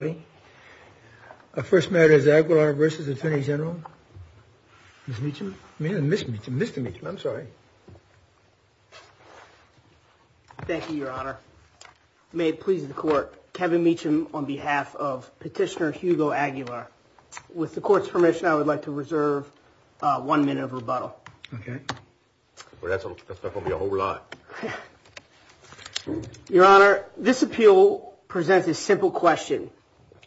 Mr. Meechum, Mr. Meechum, Mr. Meechum, I'm sorry. Thank you, Your Honor. May it please the Court, Kevin Meechum on behalf of Petitioner Hugo Aguilar. With the Court's permission, I would like to reserve one minute of rebuttal. Okay. That's not going to be a whole lot. Your Honor, this appeal presents a simple question.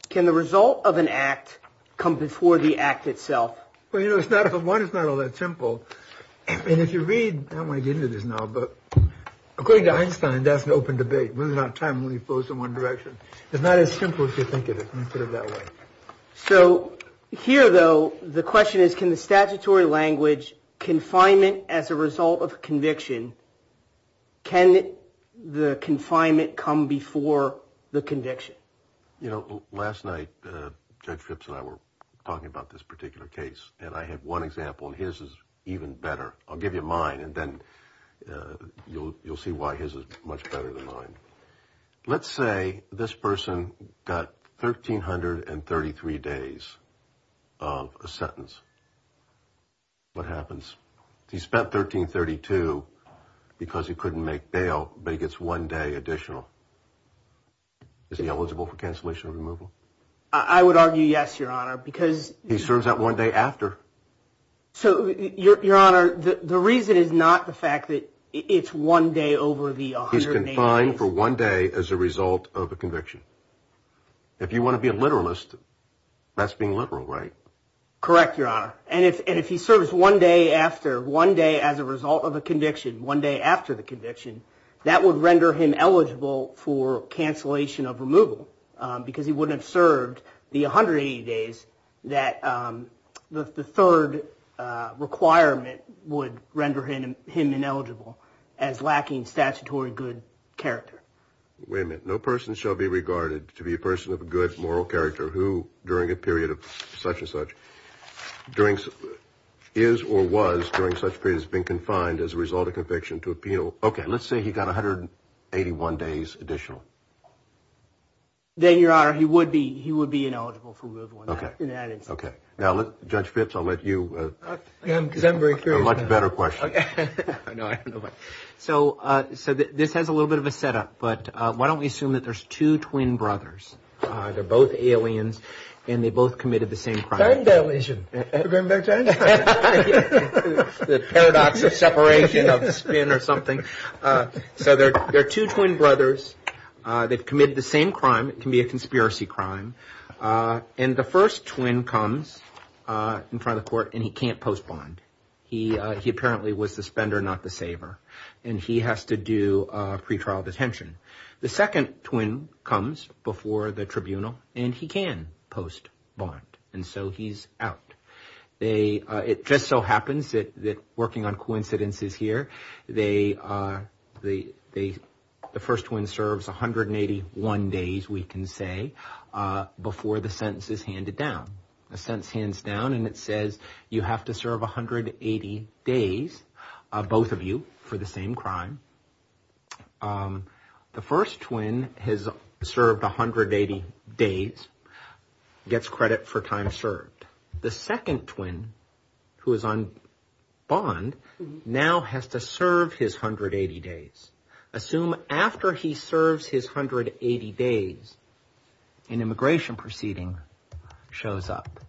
Can the result of an act come before the act itself? Well, you know, one, it's not all that simple. And if you read, I don't want to get into this now, but according to Einstein, that's an open debate. We don't have time to move folks in one direction. It's not as simple as you think it is. Let me put it that way. So here, though, the question is, can the statutory language confinement as a result of conviction, can the confinement come before the conviction? You know, last night, Judge Phipps and I were talking about this particular case, and I had one example, and his is even better. I'll give you mine, and then you'll see why his is much better than mine. Let's say this person got 1,333 days of a sentence. What happens? He spent 1,332 because he couldn't make bail, but he gets one day additional. Is he eligible for cancellation or removal? I would argue yes, Your Honor, because he serves that one day after. So, Your Honor, the reason is not the fact that it's one day over the 180 days. He's fined for one day as a result of a conviction. If you want to be a literalist, that's being literal, right? Correct, Your Honor. And if he serves one day after, one day as a result of a conviction, one day after the conviction, that would render him eligible for cancellation of removal because he wouldn't have served the 180 days that the third requirement would render him ineligible as lacking statutory good character. Wait a minute. No person shall be regarded to be a person of a good moral character who, during a period of such and such, is or was during such period has been confined as a result of conviction to appeal. Okay. Let's say he got 181 days additional. Then, Your Honor, he would be ineligible for removal in that instance. Okay. Now, Judge Fitz, I'll let you answer a much better question. So this has a little bit of a setup, but why don't we assume that there's two twin brothers. They're both aliens, and they both committed the same crime. Time dilation. Are we going back in time? The paradox of separation of the spin or something. So there are two twin brothers. They've committed the same crime. It can be a conspiracy crime. And the first twin comes in front of the court, and he can't postpone. He apparently was the spender, not the saver, and he has to do pretrial detention. The second twin comes before the tribunal, and he can post bond, and so he's out. It just so happens that, working on coincidences here, the first twin serves 181 days, we can say, before the sentence is handed down. The sentence hands down, and it says you have to serve 180 days, both of you, for the same crime. The first twin has served 180 days, gets credit for time served. The second twin, who is on bond, now has to serve his 180 days. Assume after he serves his 180 days, an immigration proceeding shows up.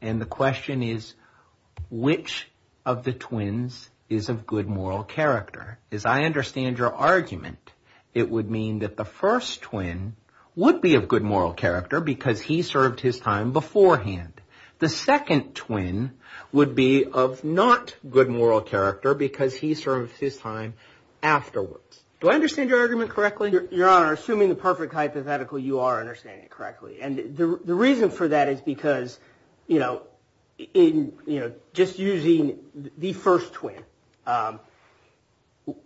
And the question is, which of the twins is of good moral character? As I understand your argument, it would mean that the first twin would be of good moral character because he served his time beforehand. The second twin would be of not good moral character because he served his time afterwards. Do I understand your argument correctly? Your Honor, assuming the perfect hypothetical, you are understanding it correctly. And the reason for that is because, you know, just using the first twin,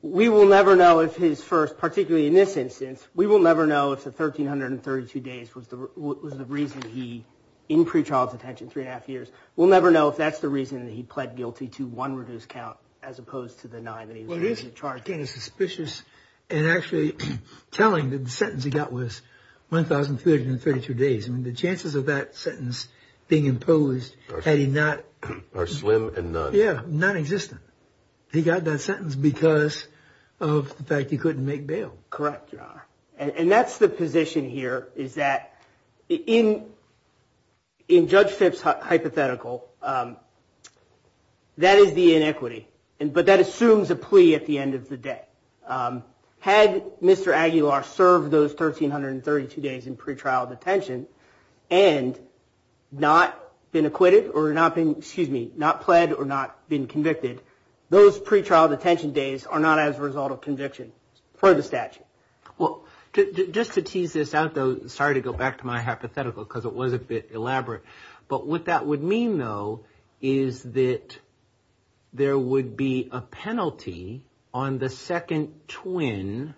we will never know if his first, particularly in this instance, we will never know if the 1,332 days was the reason he, in pre-trial detention, three and a half years, we'll never know if that's the reason he pled guilty to one reduced count as opposed to the nine that he was charged. Well, it is, again, suspicious and actually telling that the sentence he got was 1,332 days. I mean, the chances of that sentence being imposed had he not... Are slim and none. Yeah, nonexistent. He got that sentence because of the fact he couldn't make bail. Correct, Your Honor. And that's the position here is that in Judge Phipps' hypothetical, that is the inequity. But that assumes a plea at the end of the day. Had Mr. Aguilar served those 1,332 days in pre-trial detention and not been acquitted or not been, excuse me, not pled or not been convicted, those pre-trial detention days are not as a result of conviction for the statute. Well, just to tease this out, though, sorry to go back to my hypothetical because it was a bit elaborate. But what that would mean, though, is that there would be a penalty on the second twin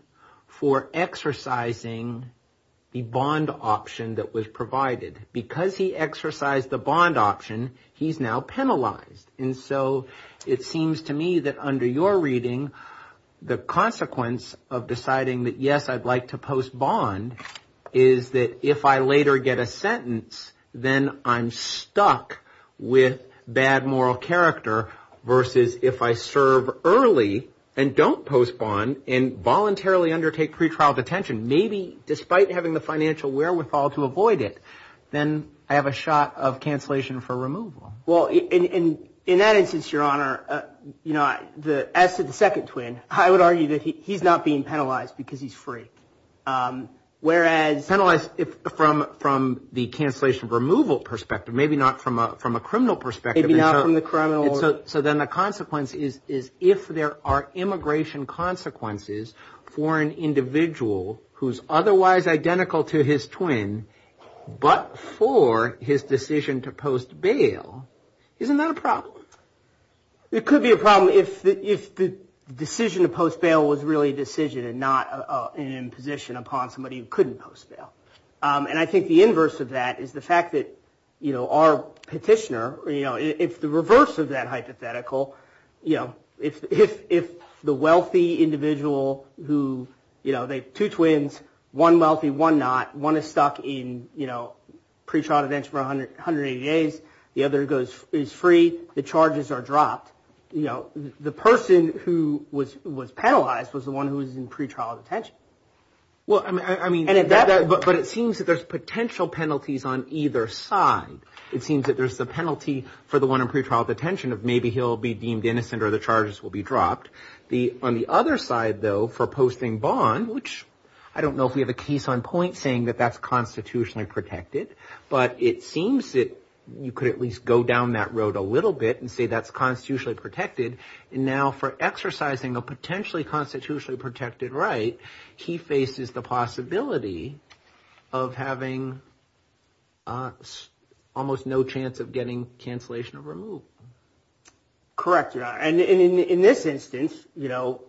for exercising the bond option that was provided. Because he exercised the bond option, he's now penalized. And so it seems to me that under your reading, the consequence of deciding that, yes, I'd like to post bond is that if I later get a sentence, then I'm stuck with bad moral character versus if I serve early and don't post bond and voluntarily undertake pre-trial detention, maybe despite having the financial wherewithal to avoid it, then I have a shot of cancellation for removal. Well, in that instance, Your Honor, you know, as to the second twin, I would argue that he's not being penalized because he's free. Whereas. Penalized from the cancellation removal perspective, maybe not from a criminal perspective. Maybe not from the criminal. So then the consequence is if there are immigration consequences for an individual who's otherwise identical to his twin, but for his decision to post bail, isn't that a problem? It could be a problem if the decision to post bail was really a decision and not an imposition upon somebody who couldn't post bail. And I think the inverse of that is the fact that, you know, our petitioner, you know, if the reverse of that hypothetical, you know, if the wealthy individual who, you know, two twins, one wealthy, one not, one is stuck in, you know, pre-trial detention for 180 days, the other is free, the charges are dropped, you know, the person who was penalized was the one who was in pre-trial detention. Well, I mean, but it seems that there's potential penalties on either side. It seems that there's the penalty for the one in pre-trial detention of maybe he'll be deemed innocent or the charges will be dropped. On the other side, though, for posting bond, which I don't know if we have a case on point saying that that's constitutionally protected, but it seems that you could at least go down that road a little bit and say that's constitutionally protected. And now for exercising a potentially constitutionally protected right, he faces the possibility of having almost no chance of getting cancellation of removal. Correct. And in this instance, you know,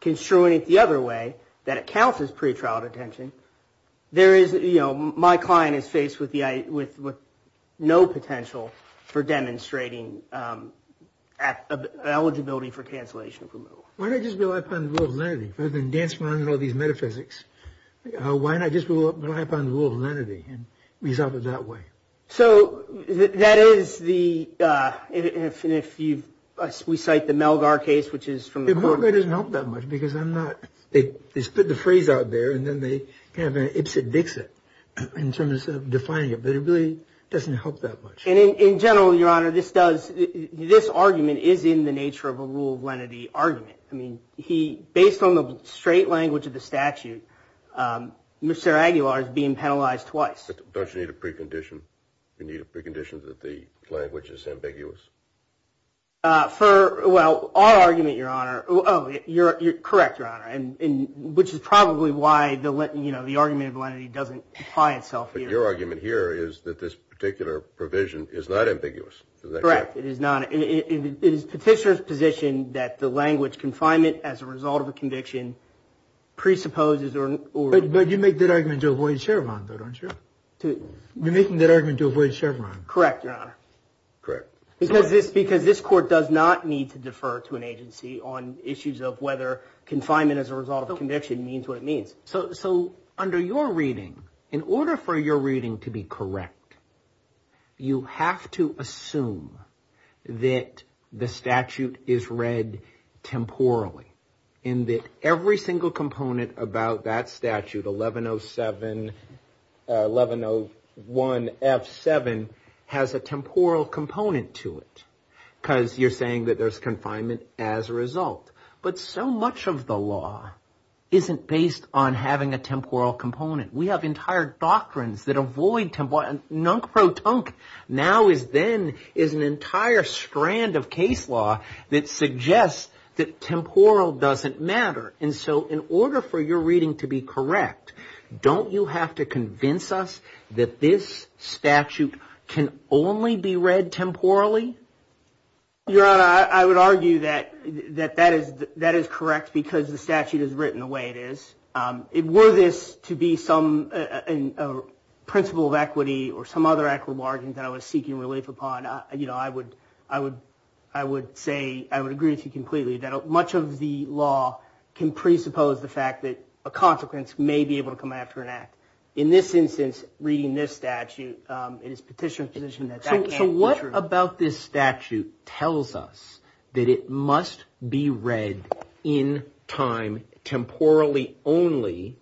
construing it the other way, that it counts as pre-trial detention, there is, you know, my client is faced with no potential for demonstrating eligibility for cancellation of removal. Why not just rely upon the rule of lenity rather than dance around in all these metaphysics? Why not just rely upon the rule of lenity and resolve it that way? So that is the, if we cite the Melgar case, which is from the court. Melgar doesn't help that much because I'm not, they spit the phrase out there and then they have an ipsit-dixit in terms of defining it. But it really doesn't help that much. And in general, Your Honor, this does, this argument is in the nature of a rule of lenity argument. I mean, he, based on the straight language of the statute, Mr. Aguilar is being penalized twice. Don't you need a precondition? You need a precondition that the language is ambiguous? For, well, our argument, Your Honor, oh, you're correct, Your Honor, which is probably why the argument of lenity doesn't apply itself here. But your argument here is that this particular provision is not ambiguous. Correct. It is not. It is Petitioner's position that the language confinement as a result of a conviction presupposes or. But you make that argument to avoid Chevron, though, don't you? You're making that argument to avoid Chevron. Correct, Your Honor. Correct. Because this, because this court does not need to defer to an agency on issues of whether confinement as a result of conviction means what it means. So, so under your reading, in order for your reading to be correct, you have to assume that the statute is read temporally. And that every single component about that statute, 1107, 1101 F7, has a temporal component to it. Because you're saying that there's confinement as a result. But so much of the law isn't based on having a temporal component. We have entire doctrines that avoid temporal. Now is then is an entire strand of case law that suggests that temporal doesn't matter. And so in order for your reading to be correct, don't you have to convince us that this statute can only be read temporally? Your Honor, I would argue that that is that is correct because the statute is written the way it is. Were this to be some principle of equity or some other act or bargain that I was seeking relief upon, you know, I would I would I would say I would agree with you completely that much of the law can presuppose the fact that a consequence may be able to come after an act. In this instance, reading this statute, it is petition position. So what about this statute tells us that it must be read in time temporally only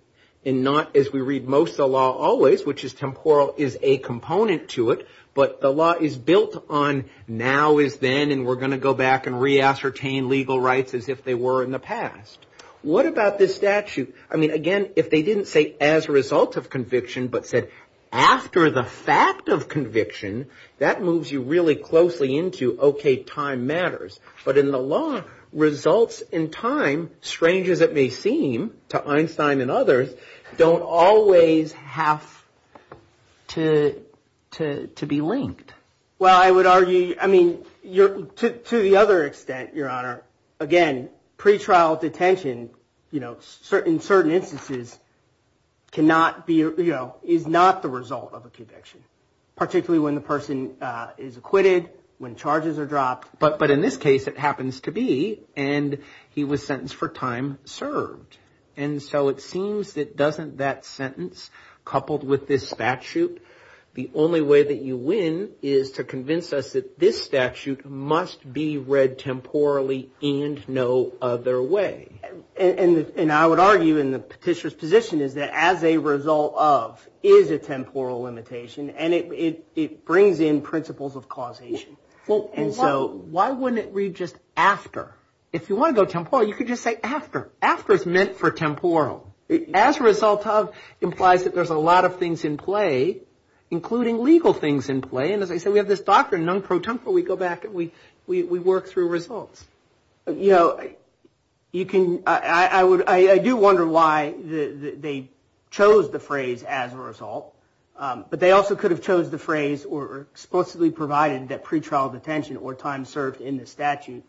and not as we read most of the law always, which is temporal, is a component to it. But the law is built on now is then. And we're going to go back and re ascertain legal rights as if they were in the past. What about this statute? I mean, again, if they didn't say as a result of conviction, but said after the fact of conviction, that moves you really closely into, OK, time matters. But in the law results in time, strange as it may seem to Einstein and others, don't always have to to to be linked. Well, I would argue, I mean, you're to the other extent, Your Honor. Again, pretrial detention, you know, certain certain instances cannot be, you know, is not the result of a conviction, particularly when the person is acquitted, when charges are dropped. But but in this case, it happens to be and he was sentenced for time served. And so it seems that doesn't that sentence coupled with this statute, the only way that you win is to convince us that this statute must be read temporally and no other way. And I would argue in the petitioner's position is that as a result of is a temporal limitation and it brings in principles of causation. And so why wouldn't it read just after if you want to go temporal? You could just say after after it's meant for temporal as a result of implies that there's a lot of things in play, including legal things in play. And as I said, we have this doctrine known pro tempore. We go back and we we work through results. You know, you can I would I do wonder why they chose the phrase as a result. But they also could have chose the phrase or explicitly provided that pretrial detention or time served in the statute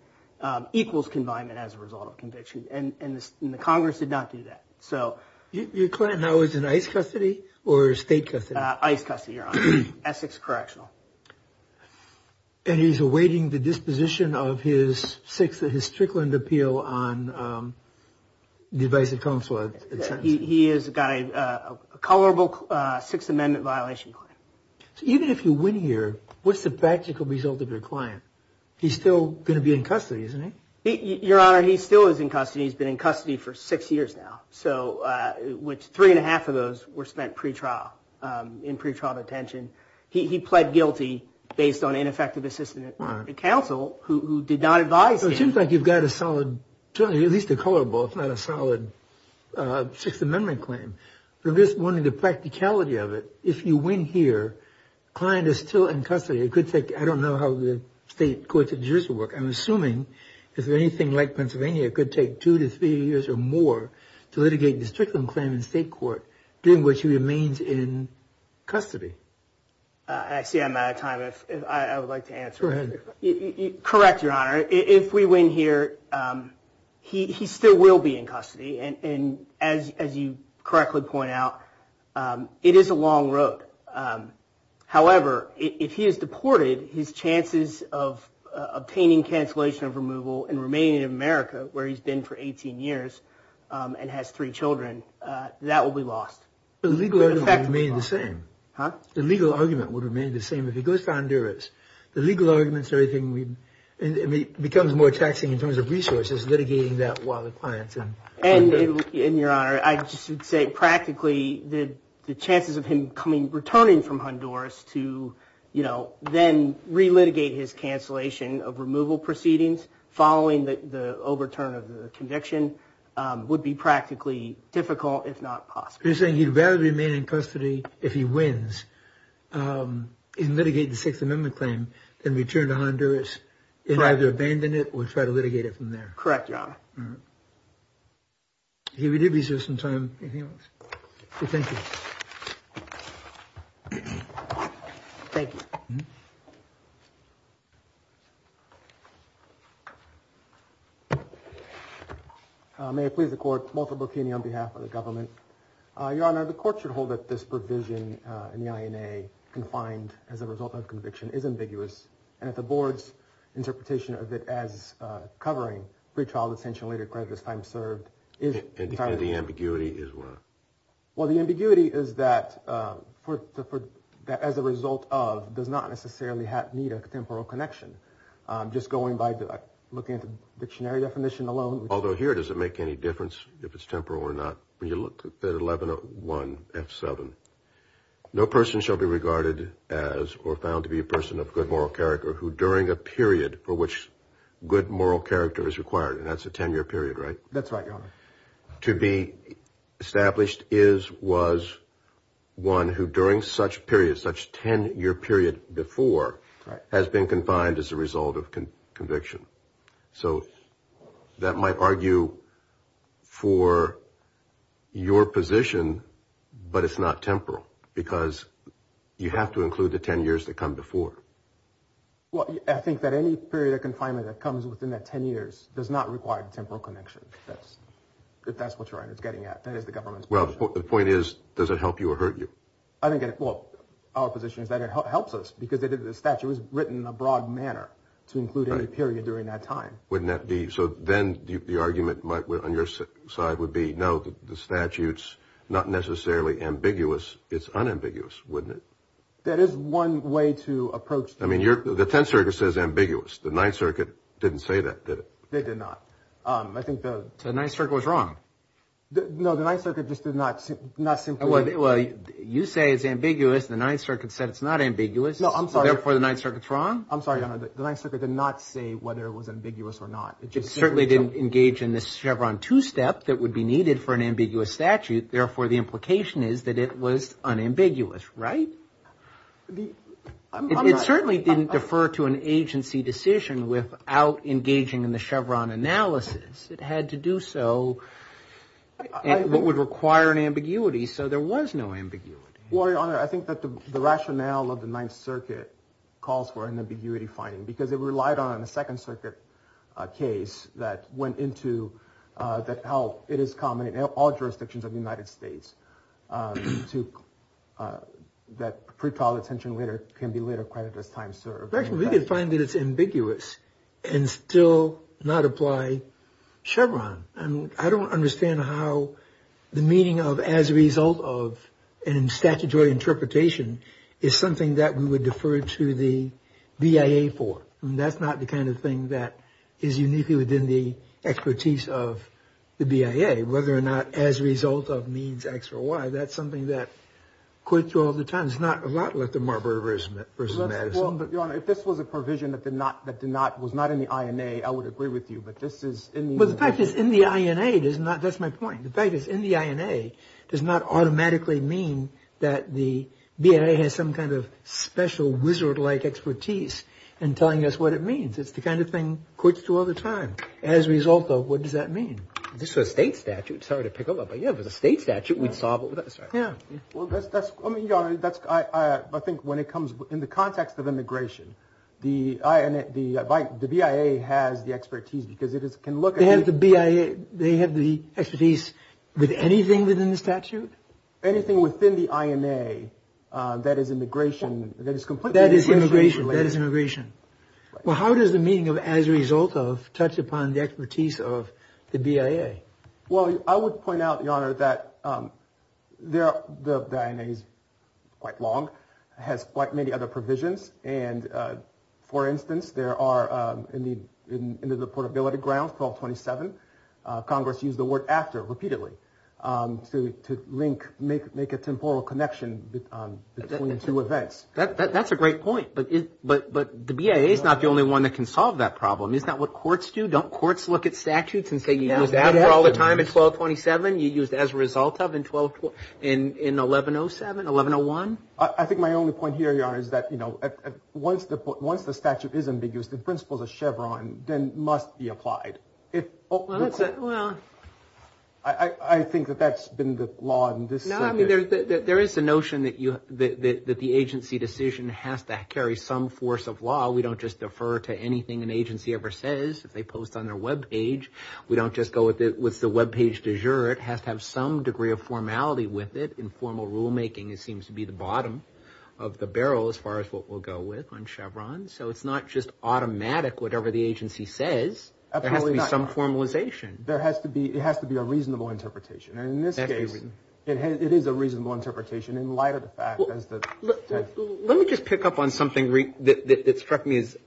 equals confinement. As a result of conviction. And the Congress did not do that. So your client now is in ice custody or state custody, ice custody, Essex correctional. And he's awaiting the disposition of his six that his Strickland appeal on divisive counsel. He has got a color book, Sixth Amendment violation. So even if you win here, what's the practical result of your client? He's still going to be in custody, isn't he? Your Honor, he still is in custody. He's been in custody for six years now. So which three and a half of those were spent pretrial in pretrial detention. He pled guilty based on ineffective assistance to counsel who did not advise. It seems like you've got a solid, at least a color book, not a solid Sixth Amendment claim. But this one, the practicality of it, if you win here, client is still in custody. It could take, I don't know how the state courts in Jerusalem work. I'm assuming if anything like Pennsylvania could take two to three years or more to litigate the Strickland claim in state court. Doing what she remains in custody. I see I'm out of time. I would like to answer. Correct, Your Honor. If we win here, he still will be in custody. And as as you correctly point out, it is a long road. However, if he is deported, his chances of obtaining cancellation of removal and remaining in America where he's been for 18 years and has three children, that will be lost. The legal argument would remain the same. Huh? The legal argument would remain the same if he goes to Honduras. The legal arguments or anything becomes more taxing in terms of resources, litigating that while the clients. And in your honor, I just say practically the chances of him coming returning from Honduras to, you know, then relitigate his cancellation of removal proceedings following the overturn of the conviction would be practically difficult, if not possible. You're saying you'd rather remain in custody if he wins in litigating the Sixth Amendment claim and return to Honduras and either abandon it or try to litigate it from there. Correct, Your Honor. We did reserve some time. Thank you. Thank you. May it please the court. Walter Burkini on behalf of the government. Your Honor, the court should hold that this provision in the INA confined as a result of conviction is ambiguous. And if the board's interpretation of it as covering pretrial detention, later creditors time served is the ambiguity is what? Well, the ambiguity is that for that as a result of does not necessarily need a temporal connection. Just going by looking at the dictionary definition alone. Although here, does it make any difference if it's temporal or not? When you look at 1101 F7, no person shall be regarded as or found to be a person of good moral character who during a period for which good moral character is required. And that's a 10 year period, right? That's right, Your Honor. To be established is, was one who during such periods, such 10 year period before has been confined as a result of conviction. So that might argue for your position, but it's not temporal because you have to include the 10 years that come before. Well, I think that any period of confinement that comes within that 10 years does not require temporal connection. That's if that's what you're getting at. That is the government. Well, the point is, does it help you or hurt you? I think our position is that it helps us because the statute was written in a broad manner to include any period during that time. Wouldn't that be so? Then the argument on your side would be, no, the statutes not necessarily ambiguous. It's unambiguous, wouldn't it? That is one way to approach it. I mean, the Tenth Circuit says ambiguous. The Ninth Circuit didn't say that, did it? They did not. The Ninth Circuit was wrong. No, the Ninth Circuit just did not simply. Well, you say it's ambiguous. The Ninth Circuit said it's not ambiguous. No, I'm sorry. Therefore, the Ninth Circuit's wrong? I'm sorry, Your Honor. The Ninth Circuit did not say whether it was ambiguous or not. It certainly didn't engage in this Chevron two-step that would be needed for an ambiguous statute. Therefore, the implication is that it was unambiguous, right? It certainly didn't defer to an agency decision without engaging in the Chevron analysis. It had to do so at what would require an ambiguity, so there was no ambiguity. Well, Your Honor, I think that the rationale of the Ninth Circuit calls for an ambiguity finding because it relied on a Second Circuit case that went into how it is common in all jurisdictions of the United States that pretrial detention can be later credited as time served. Actually, we can find that it's ambiguous and still not apply Chevron. I don't understand how the meaning of as a result of and statutory interpretation is something that we would defer to the BIA for. I mean, that's not the kind of thing that is uniquely within the expertise of the BIA, whether or not as a result of means X or Y. That's something that courts do all the time. It's not a lot like the Marbury v. Madison. Well, Your Honor, if this was a provision that was not in the INA, I would agree with you, but this is in the INA. Well, the fact it's in the INA does not – that's my point. It's the kind of thing courts do all the time. As a result of, what does that mean? This was a state statute. Sorry to pick up on that, but, yeah, if it was a state statute, we'd solve it. Yeah. Well, that's – I mean, Your Honor, that's – I think when it comes – in the context of immigration, the BIA has the expertise because it can look at – They have the BIA – they have the expertise with anything within the statute? Anything within the INA that is immigration – that is completely immigration related. That is immigration. Well, how does the meaning of as a result of touch upon the expertise of the BIA? Well, I would point out, Your Honor, that the INA is quite long, has quite many other provisions, and, for instance, there are in the portability grounds, 1227, Congress used the word after repeatedly to link – make a temporal connection between two events. That's a great point, but the BIA is not the only one that can solve that problem. Isn't that what courts do? Don't courts look at statutes and say you used after all the time in 1227, you used as a result of in 1107, 1101? I think my only point here, Your Honor, is that, you know, once the statute is ambiguous, the principles of Chevron then must be applied. Well, that's – well – I think that that's been the law in this circuit. Well, I mean, there is a notion that you – that the agency decision has to carry some force of law. We don't just defer to anything an agency ever says. If they post on their webpage, we don't just go with the webpage de jure. It has to have some degree of formality with it. In formal rulemaking, it seems to be the bottom of the barrel as far as what we'll go with on Chevron. So it's not just automatic whatever the agency says. There has to be some formalization. There has to be – it has to be a reasonable interpretation. And in this case, it is a reasonable interpretation in light of the fact that – Let me just pick up on something that struck me as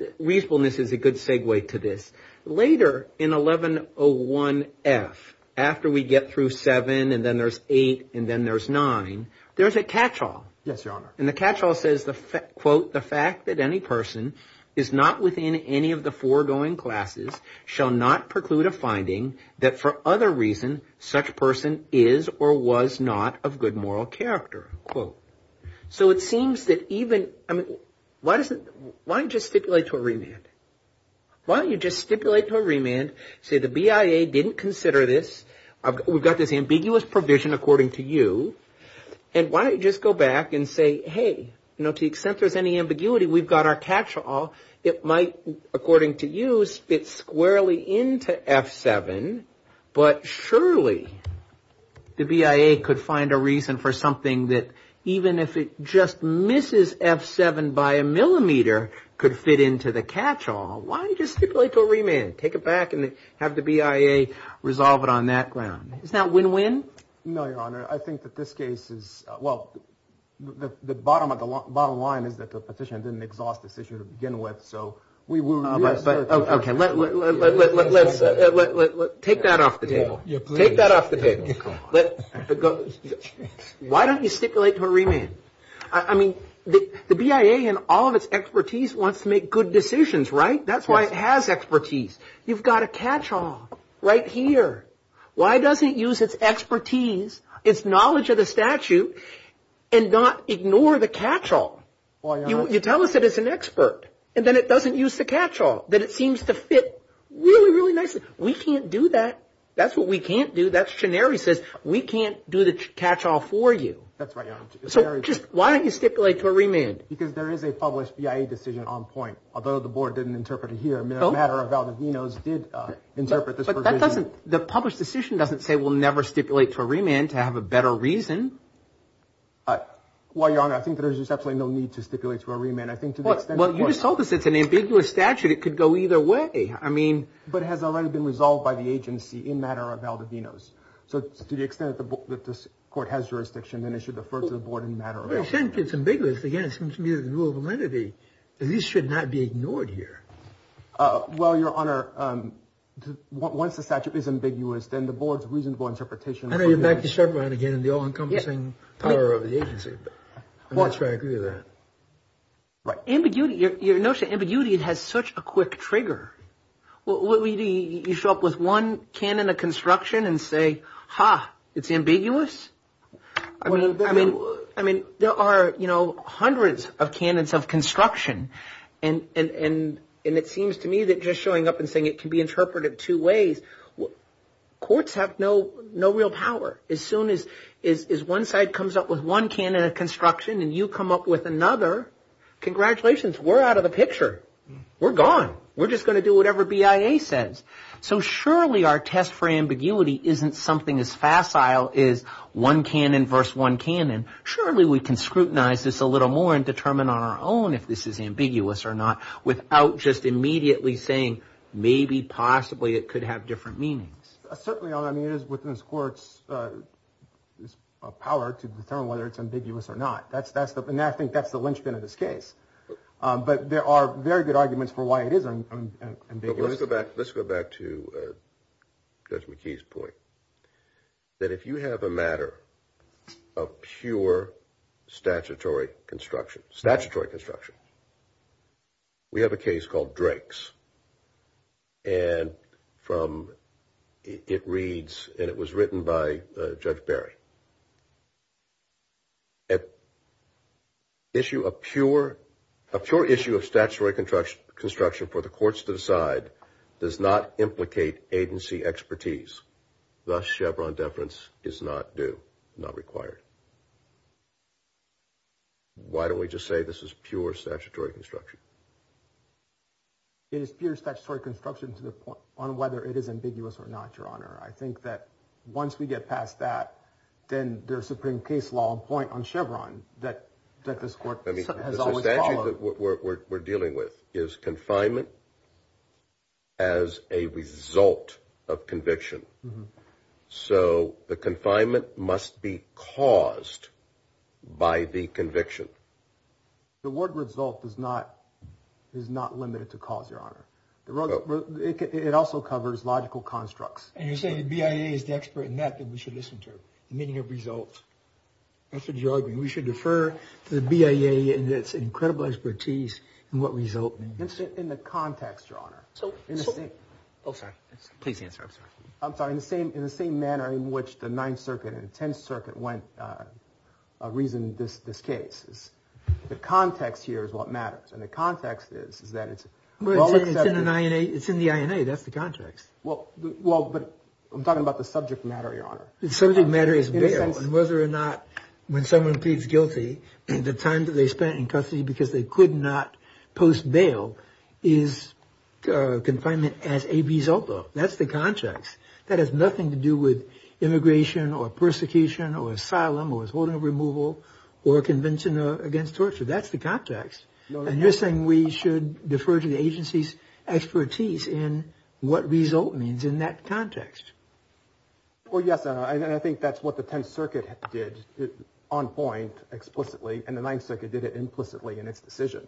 – reasonableness is a good segue to this. Later in 1101F, after we get through 7 and then there's 8 and then there's 9, there's a catch-all. Yes, Your Honor. And the catch-all says, quote, quote, So it seems that even – I mean, why doesn't – why don't you just stipulate to a remand? Why don't you just stipulate to a remand, say the BIA didn't consider this? We've got this ambiguous provision according to you. And why don't you just go back and say, hey, you know, to the extent there's any ambiguity, we've got our catch-all. It might, according to you, fit squarely into F7. But surely the BIA could find a reason for something that, even if it just misses F7 by a millimeter, could fit into the catch-all. Why don't you just stipulate to a remand? Take it back and have the BIA resolve it on that ground. Is that win-win? No, Your Honor. I think that this case is – well, the bottom line is that the petitioner didn't exhaust this issue to begin with. So we will – Okay, let's – take that off the table. Take that off the table. Why don't you stipulate to a remand? I mean, the BIA in all of its expertise wants to make good decisions, right? That's why it has expertise. You've got a catch-all right here. Why doesn't it use its expertise, its knowledge of the statute, and not ignore the catch-all? You tell us that it's an expert, and then it doesn't use the catch-all. Then it seems to fit really, really nicely. We can't do that. That's what we can't do. That's what Shinari says. We can't do the catch-all for you. That's right, Your Honor. So just – why don't you stipulate to a remand? Because there is a published BIA decision on point, although the board didn't interpret it here. The matter of Valdivinos did interpret this provision. But that doesn't – the published decision doesn't say we'll never stipulate to a remand to have a better reason. Well, Your Honor, I think there's just absolutely no need to stipulate to a remand. I think to the extent that the board – Well, you just told us it's an ambiguous statute. It could go either way. I mean – But it has already been resolved by the agency in matter of Valdivinos. So to the extent that the court has jurisdiction, then it should refer to the board in matter of – To the extent it's ambiguous, again, it seems to me that the rule of validity at least should not be ignored here. Well, Your Honor, once the statute is ambiguous, then the board's reasonable interpretation – I know you're back to Sharpe again and the all-encompassing power of the agency. I'm not sure I agree with that. Right. Ambiguity – your notion of ambiguity, it has such a quick trigger. What do you do? You show up with one cannon of construction and say, ha, it's ambiguous? I mean, there are, you know, hundreds of cannons of construction. And it seems to me that just showing up and saying it can be interpreted two ways, courts have no real power. As soon as one side comes up with one cannon of construction and you come up with another, congratulations, we're out of the picture. We're gone. We're just going to do whatever BIA says. So surely our test for ambiguity isn't something as facile as one cannon versus one cannon. Surely we can scrutinize this a little more and determine on our own if this is ambiguous or not without just immediately saying maybe, possibly it could have different meanings. Certainly, Your Honor. I mean, it is within this court's power to determine whether it's ambiguous or not. And I think that's the linchpin of this case. But there are very good arguments for why it is ambiguous. Let's go back to Judge McKee's point, that if you have a matter of pure statutory construction, we have a case called Drake's, and it reads, and it was written by Judge Berry, that a pure issue of statutory construction for the courts to decide does not implicate agency expertise. Thus, Chevron deference is not due, not required. Why don't we just say this is pure statutory construction? It is pure statutory construction to the point on whether it is ambiguous or not, Your Honor. I think that once we get past that, then there's supreme case law on point on Chevron that this court has always followed. The statute that we're dealing with is confinement as a result of conviction. So the confinement must be caused by the conviction. The word result is not limited to cause, Your Honor. It also covers logical constructs. And you're saying the BIA is the expert in that, that we should listen to, the meaning of results. That's what you're arguing. We should defer to the BIA in its incredible expertise in what result means. In the context, Your Honor. Oh, sorry. Please answer. I'm sorry. I'm sorry. In the same manner in which the Ninth Circuit and the Tenth Circuit reasoned this case. The context here is what matters, and the context is that it's... It's in the INA. That's the context. Well, but I'm talking about the subject matter, Your Honor. The subject matter is bail. And whether or not when someone pleads guilty, the time that they spent in custody because they could not post bail is confinement as a result of. That's the context. That has nothing to do with immigration or persecution or asylum or withholding of removal or a convention against torture. That's the context. And you're saying we should defer to the agency's expertise in what result means in that context. Well, yes, and I think that's what the Tenth Circuit did on point explicitly, and the Ninth Circuit did it implicitly in its decision.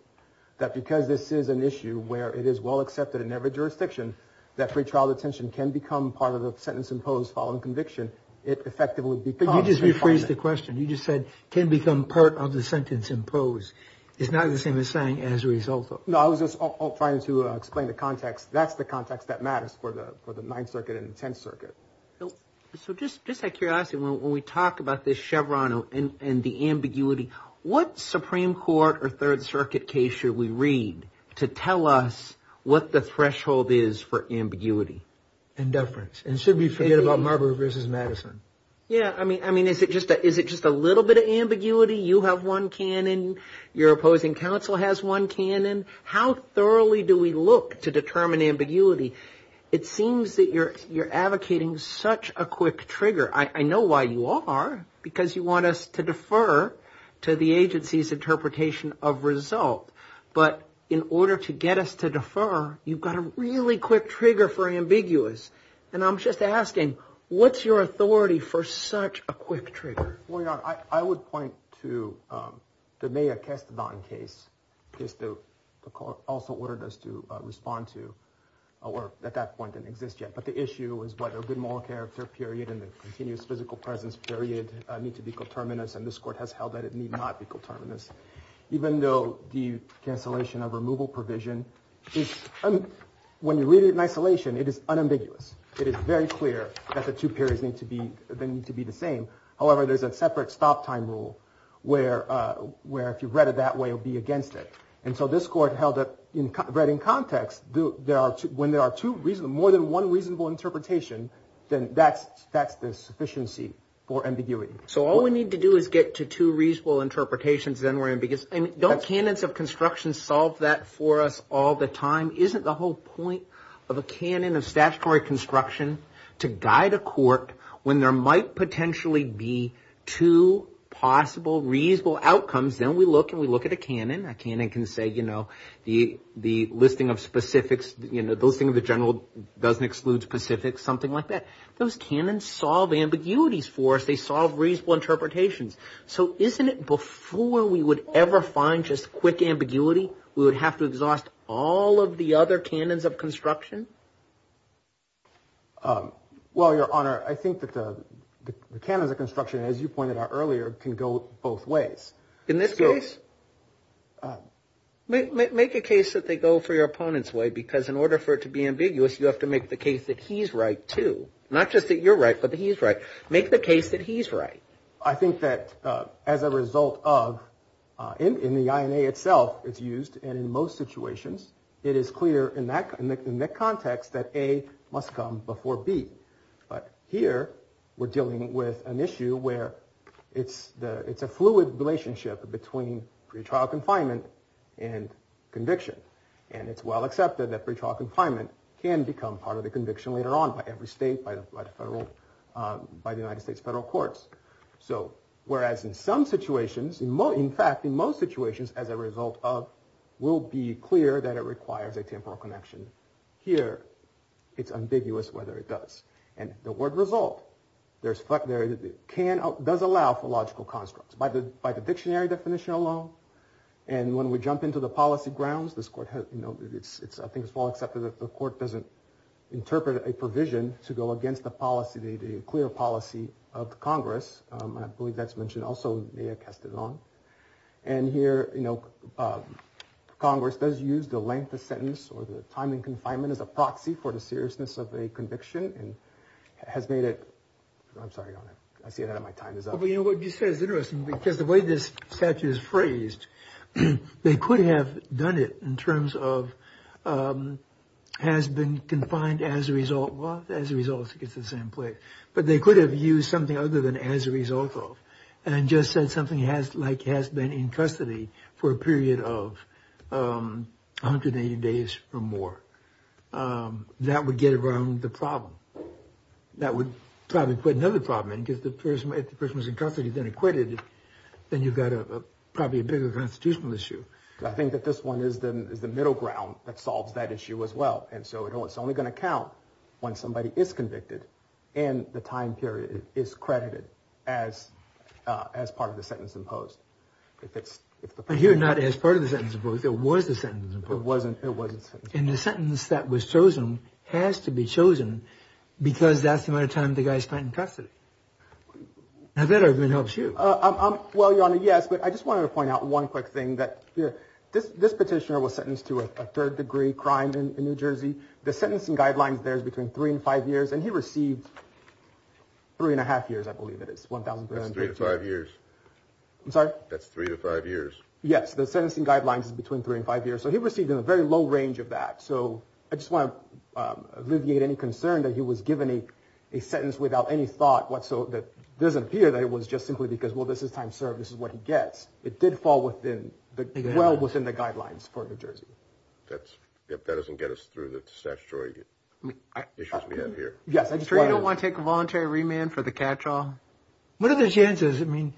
That because this is an issue where it is well accepted in every jurisdiction, that free trial detention can become part of the sentence imposed following conviction. It effectively becomes confinement. You just rephrased the question. You just said can become part of the sentence imposed. It's not the same as saying as a result. No, I was just trying to explain the context. That's the context that matters for the Ninth Circuit and the Tenth Circuit. So just a curiosity. When we talk about this Chevron and the ambiguity, what Supreme Court or Third Circuit case should we read to tell us what the threshold is for ambiguity? Indeference. And should we forget about Marbury versus Madison? Yeah. I mean, I mean, is it just is it just a little bit of ambiguity? You have one canon. Your opposing counsel has one canon. How thoroughly do we look to determine ambiguity? It seems that you're advocating such a quick trigger. I know why you are, because you want us to defer to the agency's interpretation of result. But in order to get us to defer, you've got a really quick trigger for ambiguous. And I'm just asking, what's your authority for such a quick trigger? Well, Your Honor, I would point to the Maya Kestavan case. The court also ordered us to respond to, or at that point didn't exist yet. But the issue is whether a good moral character period and the continuous physical presence period need to be coterminous. And this court has held that it need not be coterminous. Even though the cancellation of removal provision is, when you read it in isolation, it is unambiguous. It is very clear that the two periods need to be, they need to be the same. However, there's a separate stop time rule where if you've read it that way, you'll be against it. And so this court held that, read in context, when there are more than one reasonable interpretation, then that's the sufficiency for ambiguity. So all we need to do is get to two reasonable interpretations, then we're ambiguous. Don't canons of construction solve that for us all the time? Isn't the whole point of a canon of statutory construction to guide a court when there might potentially be two possible reasonable outcomes? Then we look and we look at a canon. A canon can say, you know, the listing of specifics, you know, the listing of the general doesn't exclude specifics, something like that. Those canons solve ambiguities for us. They solve reasonable interpretations. So isn't it before we would ever find just quick ambiguity, we would have to exhaust all of the other canons of construction? Well, Your Honor, I think that the canons of construction, as you pointed out earlier, can go both ways in this case. Make a case that they go for your opponent's way, because in order for it to be ambiguous, you have to make the case that he's right, too. Not just that you're right, but he's right. Make the case that he's right. I think that as a result of, in the INA itself it's used, and in most situations, it is clear in that context that A must come before B. But here we're dealing with an issue where it's a fluid relationship between pretrial confinement and conviction. And it's well accepted that pretrial confinement can become part of the conviction later on by every state, by the United States federal courts. So, whereas in some situations, in fact, in most situations, as a result of, will be clear that it requires a temporal connection. Here, it's ambiguous whether it does. And the word result does allow for logical constructs. By the dictionary definition alone. And when we jump into the policy grounds, this court has, you know, I think it's well accepted that the court doesn't interpret a provision to go against the policy, the clear policy of Congress. I believe that's mentioned also, may have cast it on. And here, you know, Congress does use the length of sentence or the time in confinement as a proxy for the seriousness of a conviction. And has made it, I'm sorry, I see that my time is up. You know, what you said is interesting because the way this statute is phrased, they could have done it in terms of has been confined as a result. Well, as a result, it gets the same place. But they could have used something other than as a result of and just said something has like has been in custody for a period of 180 days or more. That would get around the problem. That would probably put another problem in because the person if the person was in custody, then acquitted. Then you've got a probably a bigger constitutional issue. I think that this one is the middle ground that solves that issue as well. And so it's only going to count when somebody is convicted and the time period is credited as as part of the sentence imposed. If it's here, not as part of the sentence. It wasn't. It wasn't in the sentence that was chosen has to be chosen because that's the amount of time the guy spent in custody. Now that I've been helps you. Well, your honor. Yes. But I just wanted to point out one quick thing that this petitioner was sentenced to a third degree crime in New Jersey. The sentencing guidelines, there's between three and five years and he received three and a half years. I believe it is one thousand five years. I'm sorry. That's three to five years. Yes. The sentencing guidelines is between three and five years. So he received in a very low range of that. So I just want to alleviate any concern that he was given a sentence without any thought whatsoever. That doesn't appear that it was just simply because, well, this is time served. This is what he gets. It did fall within the well within the guidelines for New Jersey. That's if that doesn't get us through the statutory issues we have here. Yes. I don't want to take a voluntary remand for the catch all. What are the chances? I mean,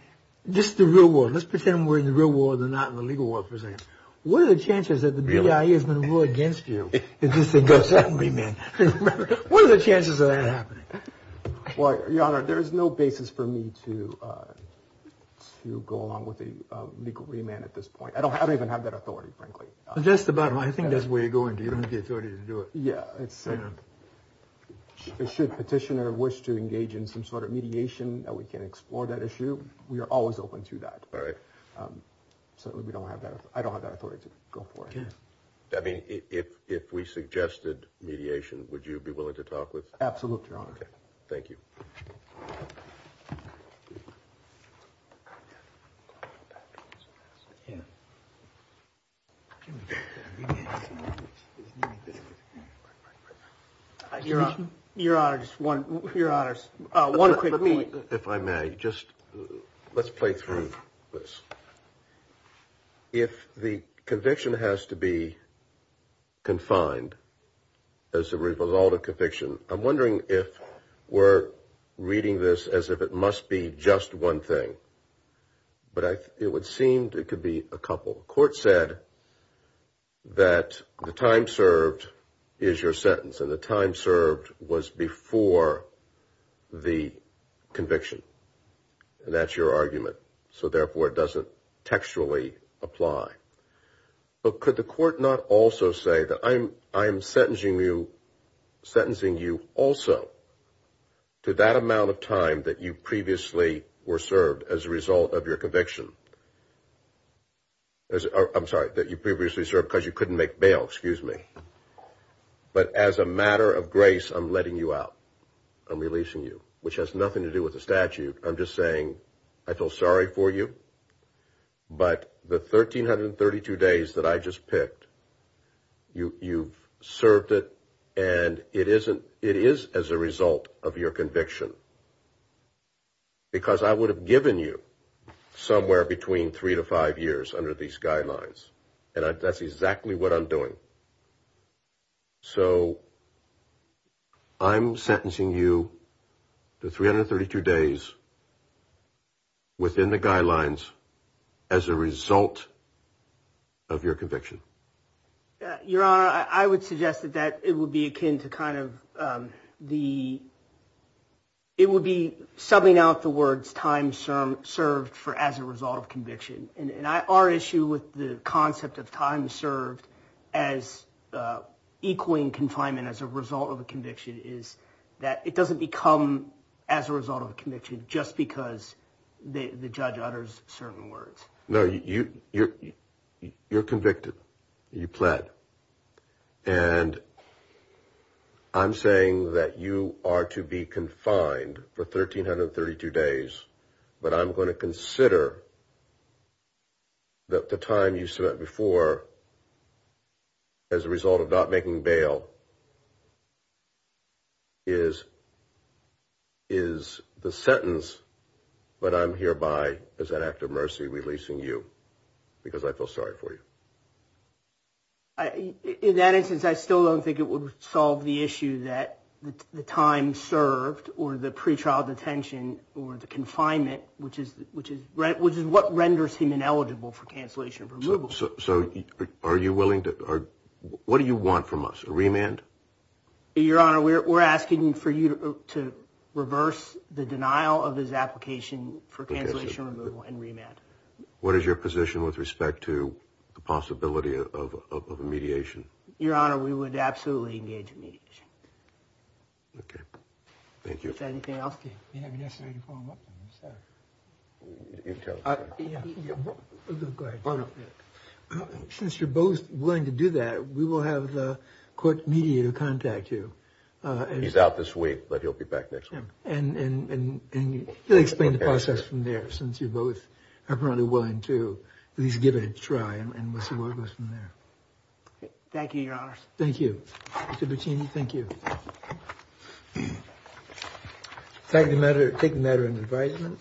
just the real world. Let's pretend we're in the real world and not in the legal world, for instance. What are the chances that the BIA is going to rule against you? Is this a good remand? What are the chances of that happening? Well, your honor, there is no basis for me to to go along with a legal remand at this point. I don't I don't even have that authority, frankly. Just about. I think that's where you're going. You don't have the authority to do it. Yeah. It's it should petitioner wish to engage in some sort of mediation that we can explore that issue. We are always open to that. All right. So we don't have that. I don't have that authority to go for it. I mean, if if we suggested mediation, would you be willing to talk with? Absolutely. Thank you. Yeah. Your honor, your honor's one quick point. If I may just let's play through this. If the conviction has to be confined. As a result of conviction, I'm wondering if we're reading this as if it must be just one thing. But it would seem it could be a couple court said. That the time served is your sentence and the time served was before the conviction. And that's your argument. So therefore, it doesn't textually apply. But could the court not also say that I'm I'm sentencing you sentencing you also. To that amount of time that you previously were served as a result of your conviction. I'm sorry that you previously served because you couldn't make bail. Excuse me. But as a matter of grace, I'm letting you out. I'm releasing you, which has nothing to do with the statute. I'm just saying I feel sorry for you. But the thirteen hundred and thirty two days that I just picked you, you've served it. And it isn't it is as a result of your conviction. Because I would have given you somewhere between three to five years under these guidelines. And that's exactly what I'm doing. So. I'm sentencing you to three hundred thirty two days. Within the guidelines as a result. Of your conviction. Your honor, I would suggest that that it would be akin to kind of the. It would be something out the words time served, served for as a result of conviction. And our issue with the concept of time served as equaling confinement as a result of a conviction, is that it doesn't become as a result of a conviction just because the judge utters certain words. No, you you're you're convicted. You pled. And I'm saying that you are to be confined for thirteen hundred thirty two days. But I'm going to consider that the time you spent before. As a result of not making bail. Is. Is the sentence. But I'm hereby as an act of mercy releasing you because I feel sorry for you. In that instance, I still don't think it would solve the issue that the time served or the pretrial detention or the confinement, which is which is right, which is what renders him ineligible for cancellation of removal. So are you willing to. What do you want from us? Remand. Your honor, we're asking for you to reverse the denial of his application for cancellation, removal and remand. What is your position with respect to the possibility of mediation? Your honor, we would absolutely engage in mediation. OK, thank you. Anything else? You have yesterday to follow up. Since you're both willing to do that, we will have the court media to contact you. And he's out this week, but he'll be back next week. And he'll explain the process from there, since you both are probably willing to at least give it a try. And we'll see where it goes from there. Thank you, your honor. Thank you. Thank you. Take the matter. Take the matter into.